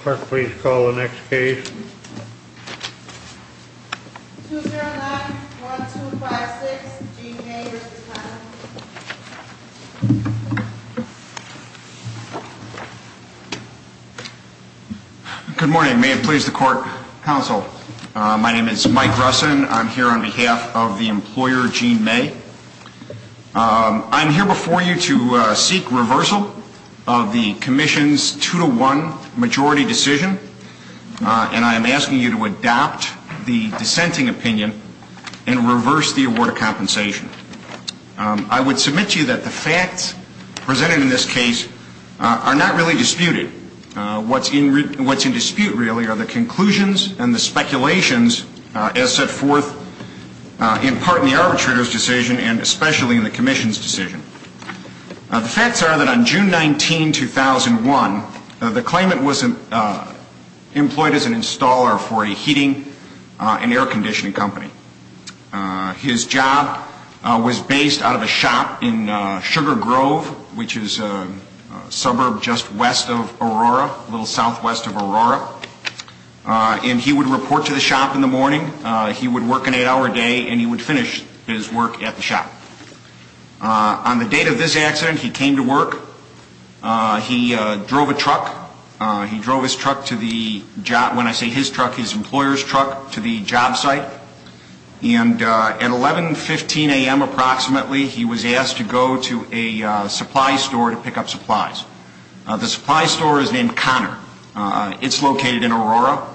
Clerk, please call the next case. 209-1256, Gene May v. Town. Good morning. May it please the Court, Counsel. My name is Mike Russin. I'm here on behalf of the employer, Gene May. I'm here before you to seek reversal of the Commission's 2-1 majority decision, and I am asking you to adopt the dissenting opinion and reverse the award of compensation. I would submit to you that the facts presented in this case are not really disputed. What's in dispute, really, are the conclusions and the speculations as set forth in part in the arbitrator's decision and especially in the Commission's decision. The facts are that on June 19, 2001, the claimant was employed as an installer for a heating and air conditioning company. His job was based out of a shop in Sugar Grove, which is a suburb just west of Aurora, a little southwest of Aurora. And he would report to the shop in the morning. He would work an eight-hour day, and he would finish his work at the shop. On the date of this accident, he came to work. He drove a truck. He drove his truck to the job – when I say his truck, his employer's truck – to the job site. And at 11.15 a.m. approximately, he was asked to go to a supply store to pick up supplies. The supply store is named Connor. It's located in Aurora.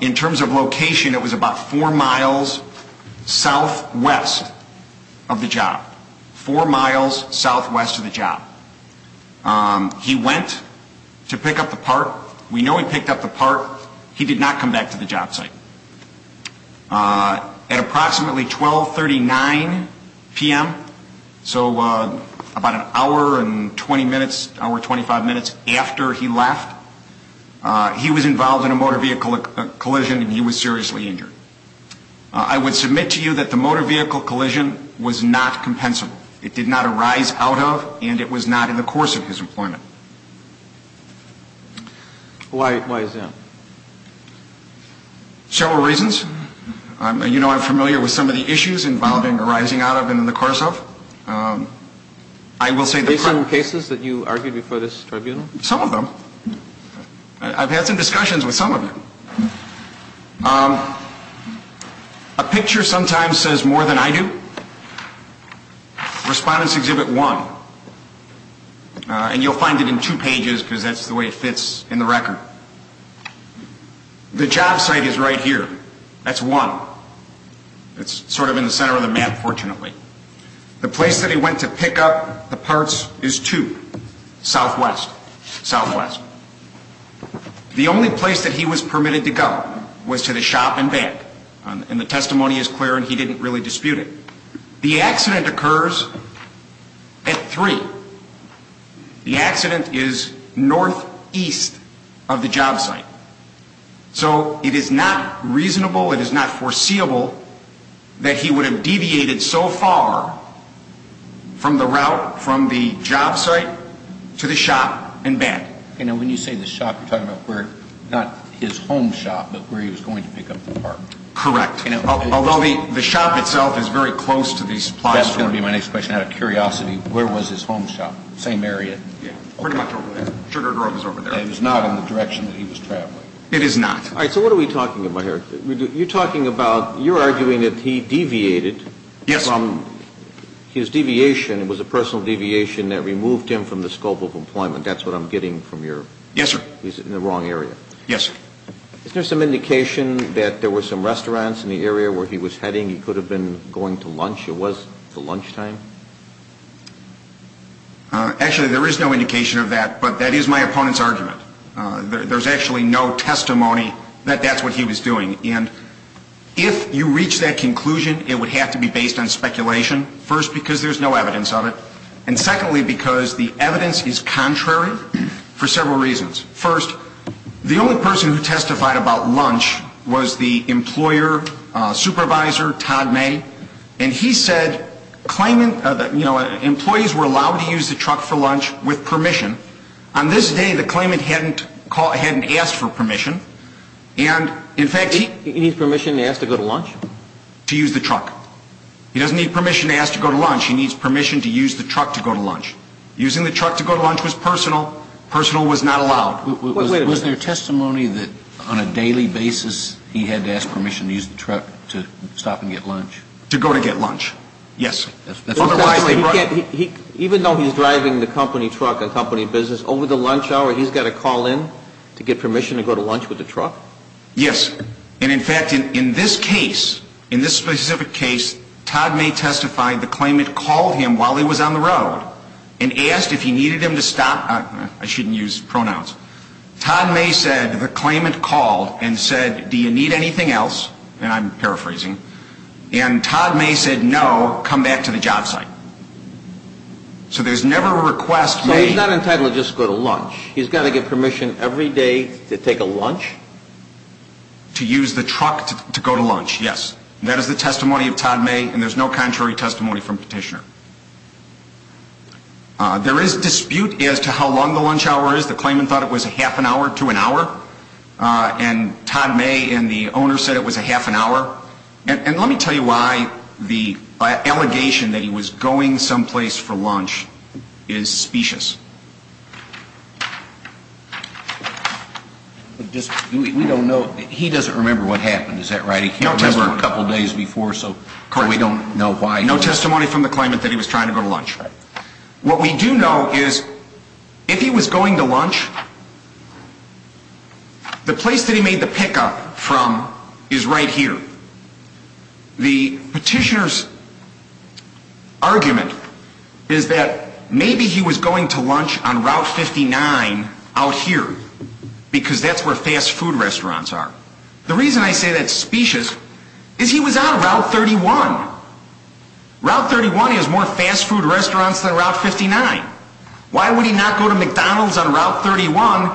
In terms of location, it was about four miles southwest of the job. Four miles southwest of the job. He went to pick up the part. We know he picked up the part. He did not come back to the job site. At approximately 12.39 p.m., so about an hour and 20 minutes, hour 25 minutes after he left, he was involved in a motor vehicle collision, and he was seriously injured. I would submit to you that the motor vehicle collision was not compensable. It did not arise out of, and it was not in the course of his employment. Why is that? Several reasons. You know I'm familiar with some of the issues involving arising out of and in the course of. Are there some cases that you argued before this tribunal? Some of them. I've had some discussions with some of them. A picture sometimes says more than I do. Respondents exhibit one, and you'll find it in two pages because that's the way it fits in the record. The job site is right here. That's one. It's sort of in the center of the map, fortunately. The place that he went to pick up the parts is two, southwest, southwest. The only place that he was permitted to go was to the shop and back, and the testimony is clear and he didn't really dispute it. The accident occurs at three. The accident is northeast of the job site. So it is not reasonable, it is not foreseeable that he would have deviated so far from the route, from the job site to the shop and back. And when you say the shop, you're talking about where, not his home shop, but where he was going to pick up the part. Correct. Although the shop itself is very close to the supply store. That's going to be my next question. Out of curiosity, where was his home shop? Same area? Pretty much over there. Sugar Grove is over there. And it was not in the direction that he was traveling. It is not. All right, so what are we talking about here? You're talking about, you're arguing that he deviated. Yes. His deviation was a personal deviation that removed him from the scope of employment. That's what I'm getting from your. Yes, sir. He's in the wrong area. Yes, sir. Is there some indication that there were some restaurants in the area where he was heading? He could have been going to lunch. It was the lunch time. Actually, there is no indication of that, but that is my opponent's argument. There's actually no testimony that that's what he was doing. If you reach that conclusion, it would have to be based on speculation. First, because there's no evidence of it. And secondly, because the evidence is contrary for several reasons. First, the only person who testified about lunch was the employer supervisor, Todd May. And he said, you know, employees were allowed to use the truck for lunch with permission. On this day, the claimant hadn't asked for permission. He needs permission to ask to go to lunch? To use the truck. He doesn't need permission to ask to go to lunch. He needs permission to use the truck to go to lunch. Using the truck to go to lunch was personal. Personal was not allowed. Wait a minute. Was there testimony that on a daily basis he had to ask permission to use the truck to stop and get lunch? To go to get lunch, yes. Even though he's driving the company truck, a company business, over the lunch hour, he's got to call in to get permission to go to lunch with the truck? Yes. And, in fact, in this case, in this specific case, Todd May testified the claimant called him while he was on the road and asked if he needed him to stop. I shouldn't use pronouns. Todd May said the claimant called and said, do you need anything else? And I'm paraphrasing. And Todd May said, no, come back to the job site. So there's never a request made. So he's not entitled to just go to lunch. He's got to get permission every day to take a lunch? To use the truck to go to lunch, yes. That is the testimony of Todd May, and there's no contrary testimony from Petitioner. There is dispute as to how long the lunch hour is. The claimant thought it was a half an hour to an hour, and Todd May and the owner said it was a half an hour. And let me tell you why the allegation that he was going someplace for lunch is specious. We don't know. He doesn't remember what happened. Is that right? He was there a couple days before, so we don't know why. No testimony from the claimant that he was trying to go to lunch. What we do know is if he was going to lunch, the place that he made the pickup from is right here. The petitioner's argument is that maybe he was going to lunch on Route 59 out here, because that's where fast food restaurants are. The reason I say that's specious is he was on Route 31. Route 31 has more fast food restaurants than Route 59. Why would he not go to McDonald's on Route 31,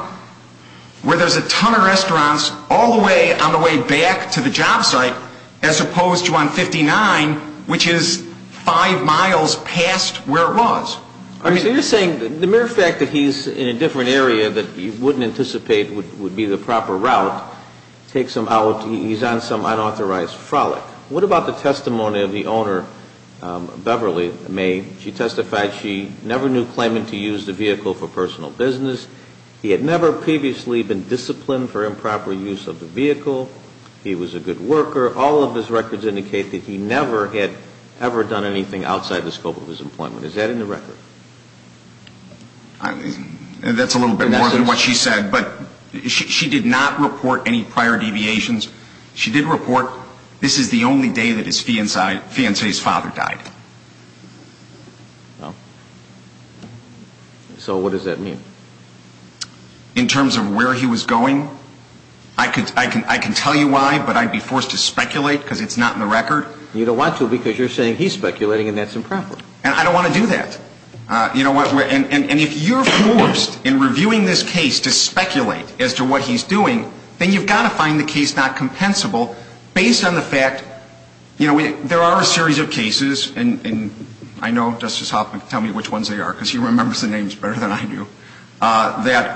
where there's a ton of restaurants, all the way on the way back to the job site, as opposed to on 59, which is five miles past where it was? So you're saying the mere fact that he's in a different area that you wouldn't anticipate would be the proper route takes him out. He's on some unauthorized frolic. What about the testimony of the owner, Beverly May? She testified she never knew claimant to use the vehicle for personal business. He had never previously been disciplined for improper use of the vehicle. He was a good worker. All of his records indicate that he never had ever done anything outside the scope of his employment. Is that in the record? That's a little bit more than what she said, but she did not report any prior deviations. She did report this is the only day that his fiancé's father died. So what does that mean? In terms of where he was going, I can tell you why, but I'd be forced to speculate because it's not in the record. You don't want to because you're saying he's speculating and that's improper. And I don't want to do that. And if you're forced in reviewing this case to speculate as to what he's doing, then you've got to find the case not compensable based on the fact there are a series of cases, and I know Justice Hoffman can tell me which ones they are because he remembers the names better than I do, that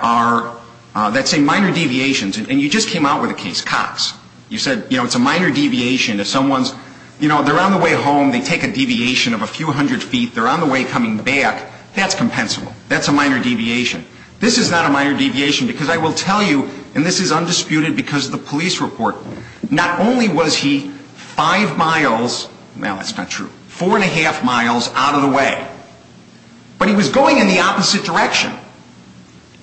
say minor deviations. And you just came out with a case, Cox. You said it's a minor deviation. They're on the way home. They take a deviation of a few hundred feet. They're on the way coming back. That's compensable. That's a minor deviation. This is not a minor deviation because I will tell you, and this is undisputed because of the police report, not only was he five miles, no, that's not true, four and a half miles out of the way, but he was going in the opposite direction.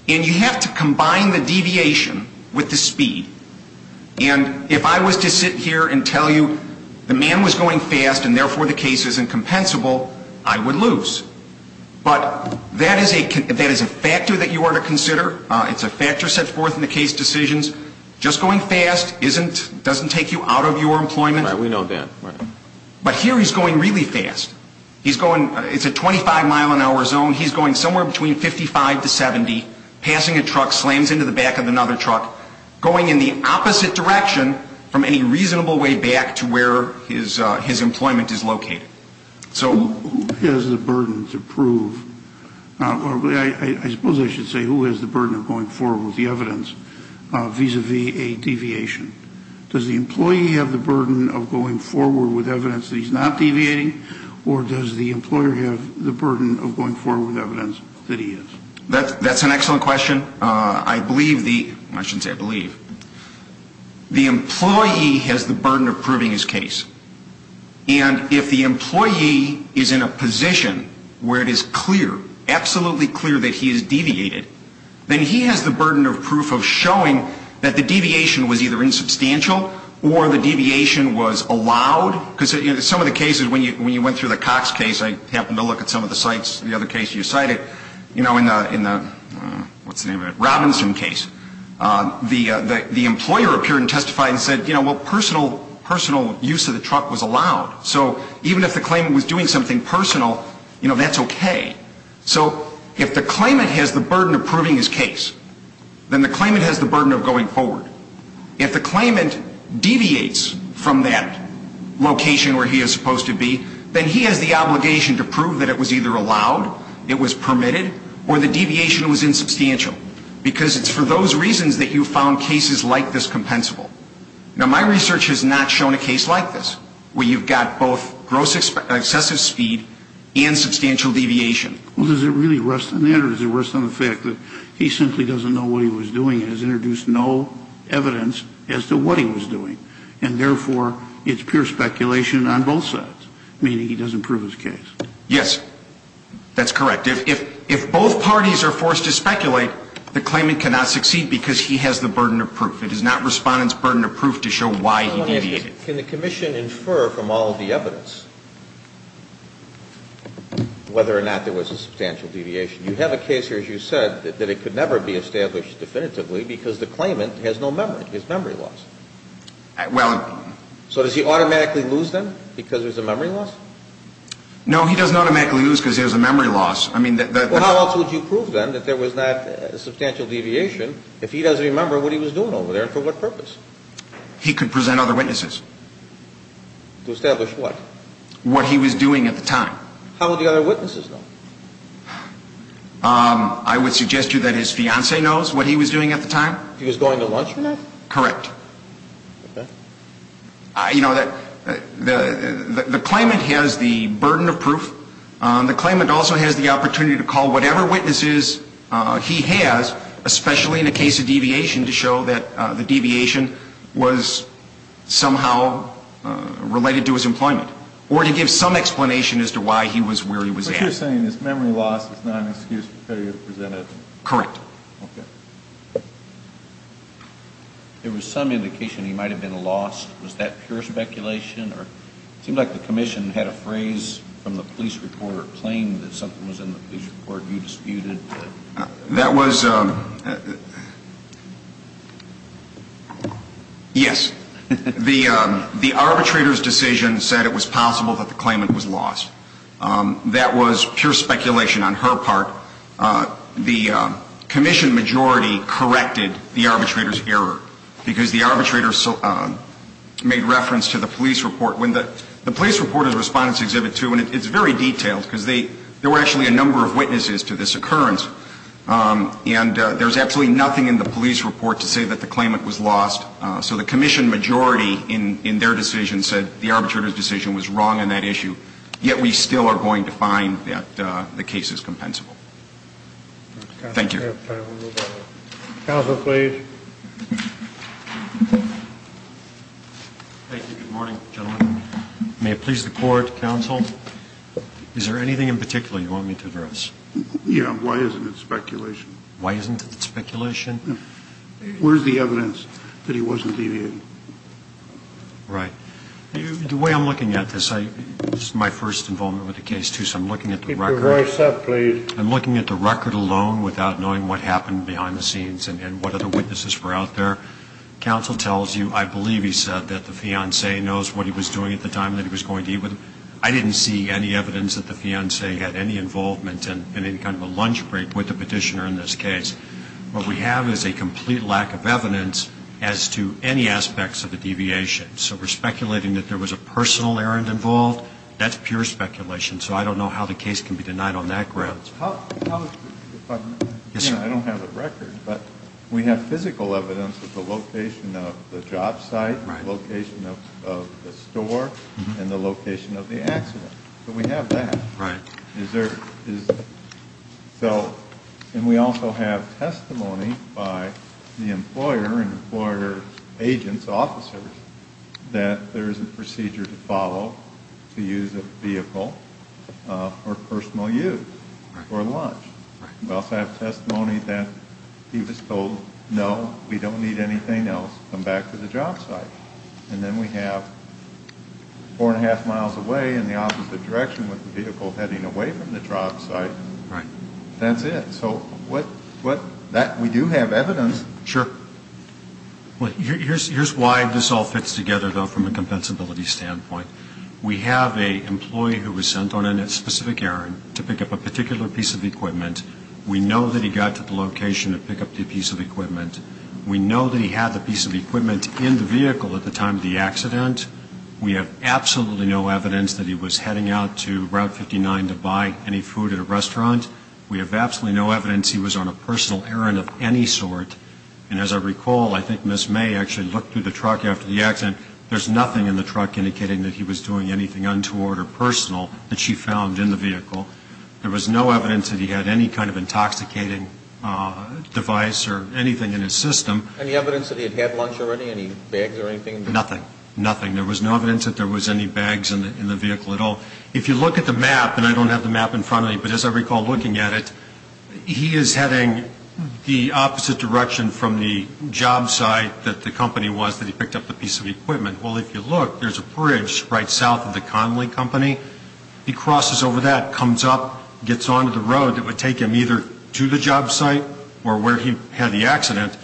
And you have to combine the deviation with the speed. And if I was to sit here and tell you the man was going fast and therefore the case is incompensable, I would lose. But that is a factor that you ought to consider. It's a factor set forth in the case decisions. Just going fast doesn't take you out of your employment. Right. We know that. But here he's going really fast. It's a 25 mile an hour zone. He's going somewhere between 55 to 70, passing a truck, slams into the back of another truck, going in the opposite direction from a reasonable way back to where his employment is located. So who has the burden to prove? I suppose I should say who has the burden of going forward with the evidence vis-à-vis a deviation? Does the employee have the burden of going forward with evidence that he's not deviating, or does the employer have the burden of going forward with evidence that he is? That's an excellent question. I believe the employee has the burden of proving his case. And if the employee is in a position where it is clear, absolutely clear, that he has deviated, then he has the burden of proof of showing that the deviation was either insubstantial or the deviation was allowed. Because some of the cases, when you went through the Cox case, I happened to look at some of the sites, the other case you cited, in the Robinson case, the employer appeared and testified and said, well, personal use of the truck was allowed. So even if the claimant was doing something personal, that's okay. So if the claimant has the burden of proving his case, then the claimant has the burden of going forward. If the claimant deviates from that location where he is supposed to be, then he has the obligation to prove that it was either allowed, it was permitted, or the deviation was insubstantial. Because it's for those reasons that you found cases like this compensable. Now, my research has not shown a case like this, where you've got both gross excessive speed and substantial deviation. Well, does it really rest on that, or does it rest on the fact that he simply doesn't know what he was doing and has introduced no evidence as to what he was doing, and therefore, it's pure speculation on both sides, meaning he doesn't prove his case? Yes. That's correct. If both parties are forced to speculate, the claimant cannot succeed because he has the burden of proof. It is not Respondent's burden of proof to show why he deviated. Can the Commission infer from all of the evidence whether or not there was a substantial deviation? You have a case here, as you said, that it could never be established definitively because the claimant has no memory, his memory loss. So does he automatically lose them because there's a memory loss? No, he doesn't automatically lose because there's a memory loss. Well, how else would you prove then that there was not a substantial deviation if he doesn't remember what he was doing over there and for what purpose? He could present other witnesses. To establish what? What he was doing at the time. How would the other witnesses know? I would suggest to you that his fiancé knows what he was doing at the time. He was going to lunch with him? Correct. Okay. You know, the claimant has the burden of proof. The claimant also has the opportunity to call whatever witnesses he has, especially in a case of deviation, to show that the deviation was somehow related to his employment or to give some explanation as to why he was where he was at. So what you're saying is memory loss is not an excuse for failure to present evidence? Correct. Okay. There was some indication he might have been lost. Was that pure speculation? It seemed like the commission had a phrase from the police report or claimed that something was in the police report you disputed. That was, yes. The arbitrator's decision said it was possible that the claimant was lost. That was pure speculation on her part. The commission majority corrected the arbitrator's error because the arbitrator made reference to the police report. The police report is Respondent's Exhibit 2, and it's very detailed because there were actually a number of witnesses to this occurrence. And there's absolutely nothing in the police report to say that the claimant was lost. So the commission majority in their decision said the arbitrator's decision was wrong on that issue. Yet we still are going to find that the case is compensable. Thank you. Counsel, please. Thank you. Good morning, gentlemen. May it please the Court, Counsel, is there anything in particular you want me to address? Yeah. Why isn't it speculation? Why isn't it speculation? Where's the evidence that he wasn't deviated? Right. The way I'm looking at this, this is my first involvement with the case, too. So I'm looking at the record. Keep your voice up, please. I'm looking at the record alone without knowing what happened behind the scenes and what other witnesses were out there. Counsel tells you, I believe he said, that the fiancé knows what he was doing at the time that he was going to eat with him. I didn't see any evidence that the fiancé had any involvement in any kind of a lunch break with the petitioner in this case. What we have is a complete lack of evidence as to any aspects of the deviation. So we're speculating that there was a personal errand involved. That's pure speculation. So I don't know how the case can be denied on that ground. I don't have a record, but we have physical evidence of the location of the job site, the location of the store, and the location of the accident. So we have that. Right. And we also have testimony by the employer and employer agents, officers, that there is a procedure to follow to use a vehicle for personal use or lunch. We also have testimony that he was told, no, we don't need anything else. Come back to the job site. And then we have four and a half miles away in the opposite direction with the vehicle heading away from the job site. That's it. So we do have evidence. Sure. Here's why this all fits together, though, from a compensability standpoint. We have an employee who was sent on a specific errand to pick up a particular piece of equipment. We know that he got to the location to pick up the piece of equipment. We know that he had the piece of equipment in the vehicle at the time of the accident. We have absolutely no evidence that he was heading out to Route 59 to buy any food at a restaurant. We have absolutely no evidence he was on a personal errand of any sort. And as I recall, I think Ms. May actually looked through the truck after the accident. There's nothing in the truck indicating that he was doing anything untoward or personal that she found in the vehicle. There was no evidence that he had any kind of intoxicating device or anything in his system. Any evidence that he had had lunch already, any bags or anything? Nothing. Nothing. There was no evidence that there was any bags in the vehicle at all. If you look at the map, and I don't have the map in front of me, but as I recall looking at it, he is heading the opposite direction from the job site that the company was that he picked up the piece of equipment. Well, if you look, there's a bridge right south of the Connelly Company. He crosses over that, comes up, gets onto the road that would take him either to the job site or where he had the accident.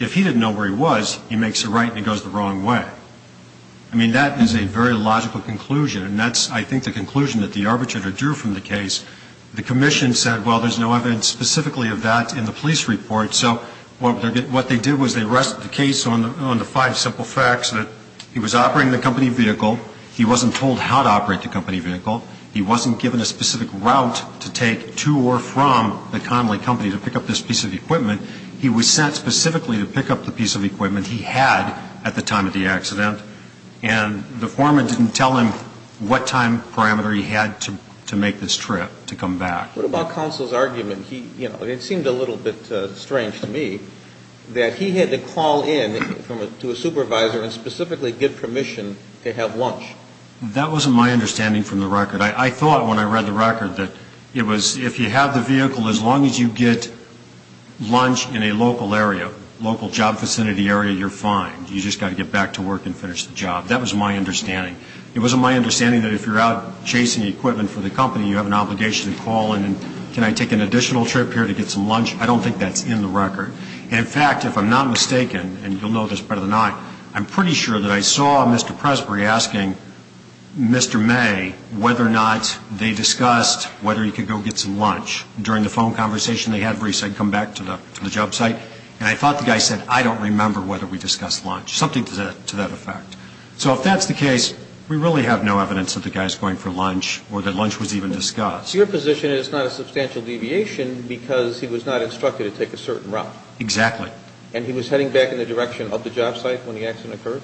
If he didn't know where he was, he makes a right and he goes the wrong way. I mean, that is a very logical conclusion, and that's, I think, the conclusion that the arbitrator drew from the case. The commission said, well, there's no evidence specifically of that in the police report, so what they did was they rested the case on the five simple facts that he was operating the company vehicle, he wasn't told how to operate the company vehicle, he wasn't given a specific route to take to or from the Connelly Company to pick up this piece of equipment. He was sent specifically to pick up the piece of equipment he had at the time of the accident, and the foreman didn't tell him what time parameter he had to make this trip to come back. What about counsel's argument? It seemed a little bit strange to me that he had to call in to a supervisor and specifically give permission to have lunch. That wasn't my understanding from the record. I thought when I read the record that it was, if you have the vehicle, as long as you get lunch in a local area, local job vicinity area, you're fine. You just got to get back to work and finish the job. That was my understanding. It wasn't my understanding that if you're out chasing equipment for the company, you have an obligation to call in and, can I take an additional trip here to get some lunch? I don't think that's in the record. In fact, if I'm not mistaken, and you'll know this better than I, I'm pretty sure that I saw Mr. Presbury asking Mr. May whether or not they discussed whether he could go get some lunch during the phone conversation they had where he said come back to the job site. And I thought the guy said, I don't remember whether we discussed lunch, something to that effect. So if that's the case, we really have no evidence that the guy's going for lunch or that lunch was even discussed. So your position is it's not a substantial deviation because he was not instructed to take a certain route? Exactly. And he was heading back in the direction of the job site when the accident occurred?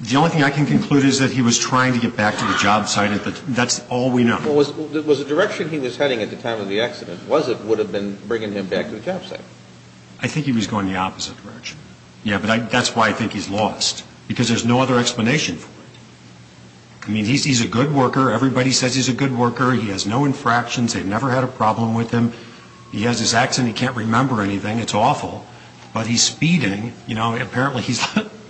The only thing I can conclude is that he was trying to get back to the job site. That's all we know. Was the direction he was heading at the time of the accident, was it, would have been bringing him back to the job site? I think he was going the opposite direction. Yeah, but that's why I think he's lost because there's no other explanation for it. I mean, he's a good worker. Everybody says he's a good worker. He has no infractions. They've never had a problem with him. He has his accent. He can't remember anything. It's awful. But he's speeding. You know, apparently he's,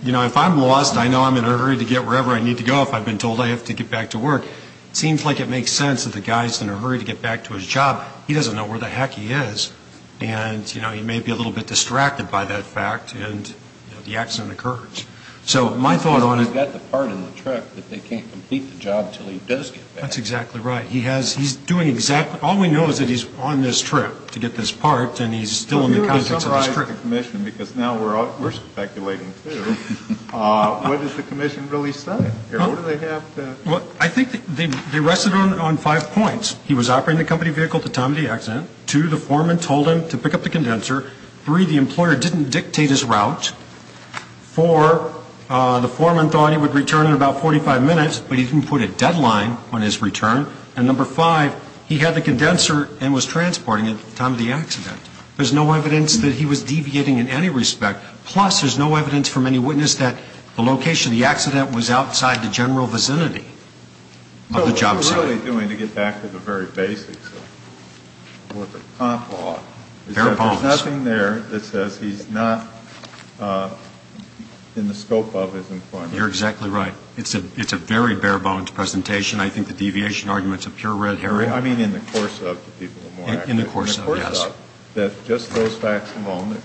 you know, if I'm lost, I know I'm in a hurry to get wherever I need to go. If I've been told I have to get back to work. It seems like it makes sense that the guy's in a hurry to get back to his job. He doesn't know where the heck he is. And, you know, he may be a little bit distracted by that fact and, you know, the accident occurs. So my thought on it. He's got the part in the trip, but they can't complete the job until he does get back. That's exactly right. He has, he's doing exactly, all we know is that he's on this trip to get this part, and he's still in the context of this trip. I'm going to ask the commission, because now we're speculating too. What does the commission really say? Well, I think they rested on five points. He was operating the company vehicle at the time of the accident. Two, the foreman told him to pick up the condenser. Three, the employer didn't dictate his route. Four, the foreman thought he would return in about 45 minutes, but he didn't put a deadline on his return. And number five, he had the condenser and was transporting it at the time of the accident. There's no evidence that he was deviating in any respect. Plus, there's no evidence from any witness that the location of the accident was outside the general vicinity of the job site. Well, what he was really doing, to get back to the very basics of what the comp law is, is that there's nothing there that says he's not in the scope of his employment. You're exactly right. It's a very bare-bones presentation. I think the deviation argument is a pure red herring. I mean in the course of, to people who are more accurate. In the course of, yes. It turns out that just those facts alone,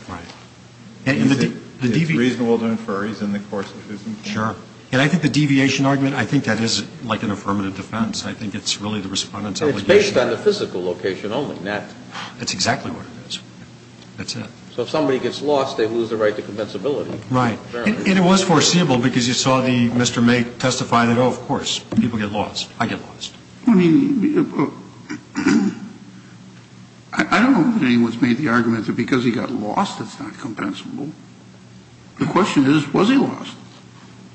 it's reasonable to infer he's in the course of his employment. Sure. And I think the deviation argument, I think that is like an affirmative defense. I think it's really the Respondent's obligation. It's based on the physical location only. That's exactly what it is. That's it. So if somebody gets lost, they lose the right to compensability. Right. And it was foreseeable because you saw Mr. May testify that, oh, of course, people get lost. I get lost. I mean, I don't know if anyone's made the argument that because he got lost, it's not compensable. The question is, was he lost?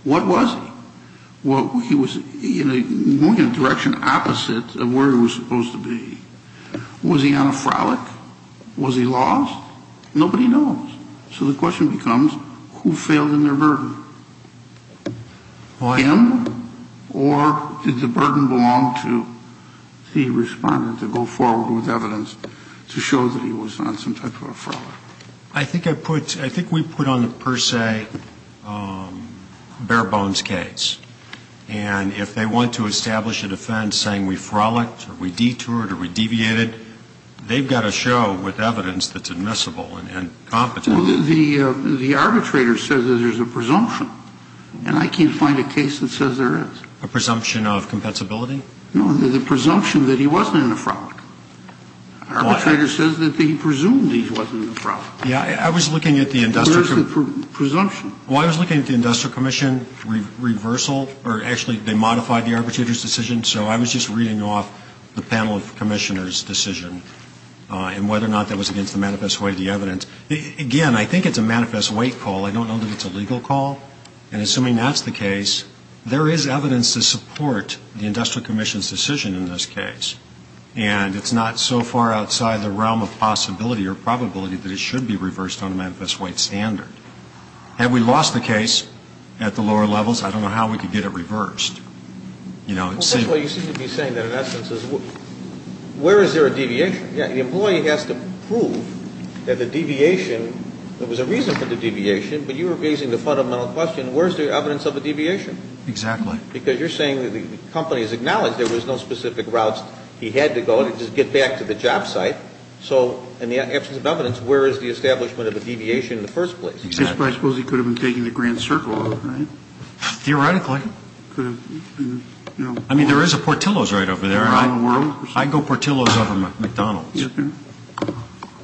What was he? He was moving in a direction opposite of where he was supposed to be. Was he on a frolic? Was he lost? Nobody knows. So the question becomes, who failed in their burden? Him? Or did the burden belong to the Respondent to go forward with evidence to show that he was on some type of a frolic? I think we put on the per se bare bones case. And if they want to establish a defense saying we frolicged or we detoured or we deviated, they've got to show with evidence that's admissible and compensable. Well, the arbitrator says that there's a presumption. And I can't find a case that says there is. A presumption of compensability? No, the presumption that he wasn't in a frolic. Arbitrator says that he presumed he wasn't in a frolic. Yeah, I was looking at the industrial commission. There is a presumption. Well, I was looking at the industrial commission reversal, or actually they modified the arbitrator's decision. So I was just reading off the panel of commissioners' decision and whether or not that was against the manifest way of the evidence. Again, I think it's a manifest way call. I don't know that it's a legal call. And assuming that's the case, there is evidence to support the industrial commission's decision in this case. And it's not so far outside the realm of possibility or probability that it should be reversed on a manifest way standard. Have we lost the case at the lower levels? I don't know how we could get it reversed. Well, first of all, you seem to be saying that in essence is where is there a deviation? Yeah, the employee has to prove that the deviation, there was a reason for the deviation, but you were raising the fundamental question, where is there evidence of a deviation? Exactly. Because you're saying that the company has acknowledged there was no specific routes he had to go to just get back to the job site. So in the absence of evidence, where is the establishment of a deviation in the first place? I suppose he could have been taking the Grand Circle, right? Theoretically. I mean, there is a Portillo's right over there. I go Portillo's over McDonald's.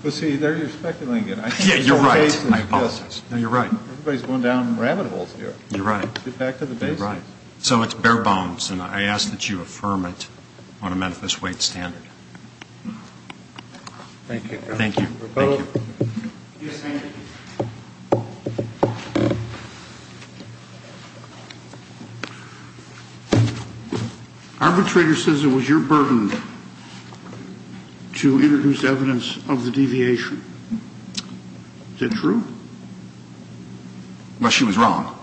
But see, there you're speculating again. Yeah, you're right. I apologize. No, you're right. Everybody's going down rabbit holes here. You're right. Get back to the basics. You're right. So it's bare bones, and I ask that you affirm it on a manifest way standard. Thank you. Thank you. Thank you. Yes, ma'am. Arbitrator says it was your burden to introduce evidence of the deviation. Is that true? Well, she was wrong.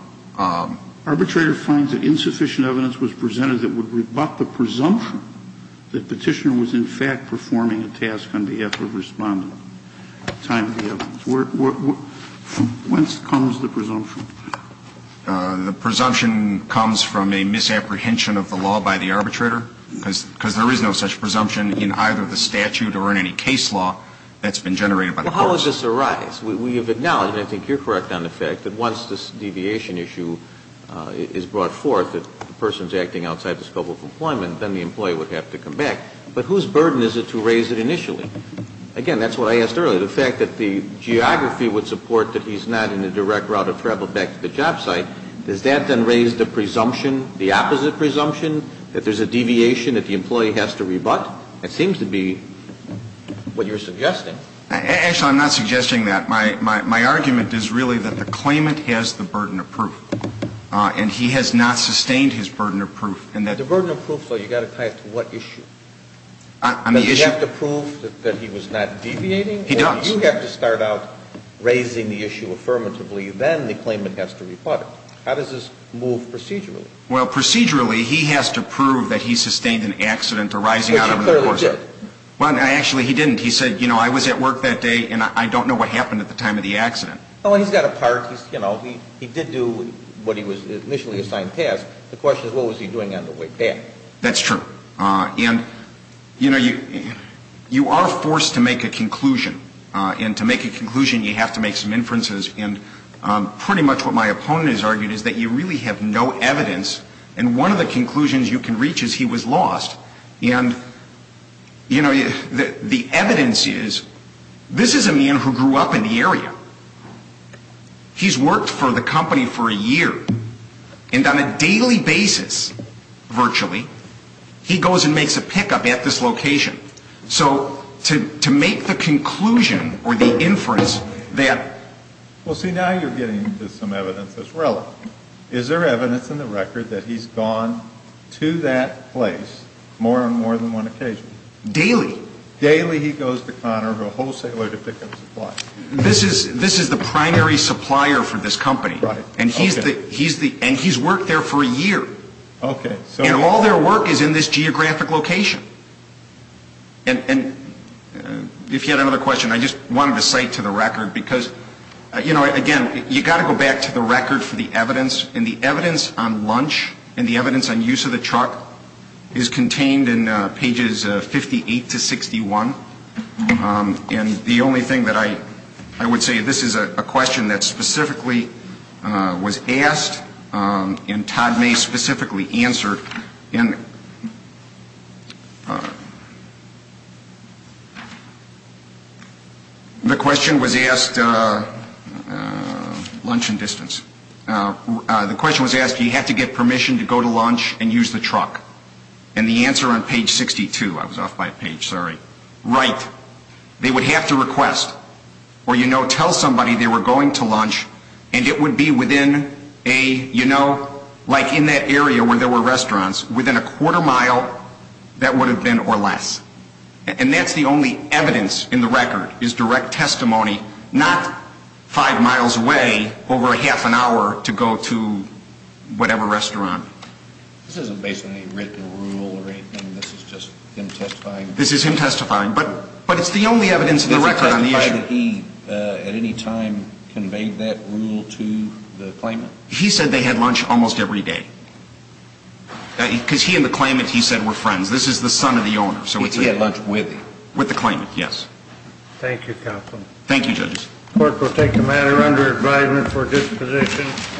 Arbitrator finds that insufficient evidence was presented that would rebut the presumption that Petitioner was in fact performing a task on behalf of a respondent. Time for the evidence. Whence comes the presumption? The presumption comes from a misapprehension of the law by the arbitrator, because there is no such presumption in either the statute or in any case law that's been generated by the courts. Well, how does this arise? We have acknowledged, and I think you're correct on the fact, that once this deviation issue is brought forth, that the person's acting outside the scope of employment, then the employee would have to come back. But whose burden is it to raise it initially? Again, that's what I asked earlier, the fact that the geography would support that he's not in a direct route of travel back to the job site. Does that then raise the presumption, the opposite presumption, that there's a deviation that the employee has to rebut? That seems to be what you're suggesting. Actually, I'm not suggesting that. My argument is really that the claimant has the burden of proof, and he has not sustained his burden of proof. The burden of proof, though, you've got to tie it to what issue? On the issue? Does he have to prove that he was not deviating? He does. Or do you have to start out raising the issue affirmatively, then the claimant has to rebut it? How does this move procedurally? Well, procedurally, he has to prove that he sustained an accident arising out of the course of the course. Which he clearly did. Well, actually, he didn't. He said, you know, I was at work that day, and I don't know what happened at the time of the accident. Well, he's got a part. He's, you know, he did do what he was initially assigned task. The question is, what was he doing on the way back? That's true. And, you know, you are forced to make a conclusion. And to make a conclusion, you have to make some inferences. And pretty much what my opponent has argued is that you really have no evidence. And one of the conclusions you can reach is he was lost. And, you know, the evidence is this is a man who grew up in the area. He's worked for the company for a year. And on a daily basis, virtually, he goes and makes a pickup at this location. So to make the conclusion or the inference that. Well, see, now you're getting to some evidence that's relevant. Is there evidence in the record that he's gone to that place more and more than one occasion? Daily. Daily he goes to Conner, a wholesaler, to pick up supplies. This is the primary supplier for this company. Right. And he's worked there for a year. Okay. And all their work is in this geographic location. And if you had another question, I just wanted to cite to the record because, you know, again, you've got to go back to the record for the evidence. And the evidence on lunch and the evidence on use of the truck is contained in pages 58 to 61. And the only thing that I would say, this is a question that specifically was asked and Todd may specifically answer. And. The question was asked. Lunch and distance. The question was asked, you have to get permission to go to lunch and use the truck. And the answer on page 62, I was off by a page, sorry. Right. They would have to request or, you know, tell somebody they were going to lunch and it would be within a, you know, like in that area where there were restaurants, within a quarter mile that would have been or less. And that's the only evidence in the record is direct testimony, not five miles away over a half an hour to go to whatever restaurant. This isn't based on a written rule or anything. This is just him testifying. This is him testifying. But, but it's the only evidence in the record on the issue. He at any time conveyed that rule to the claimant. He said they had lunch almost every day. Because he and the claimant, he said, were friends. This is the son of the owner. So he had lunch with him. With the claimant. Yes. Thank you, Counsel. Thank you, judges. Court will take the matter under advisement for disposition.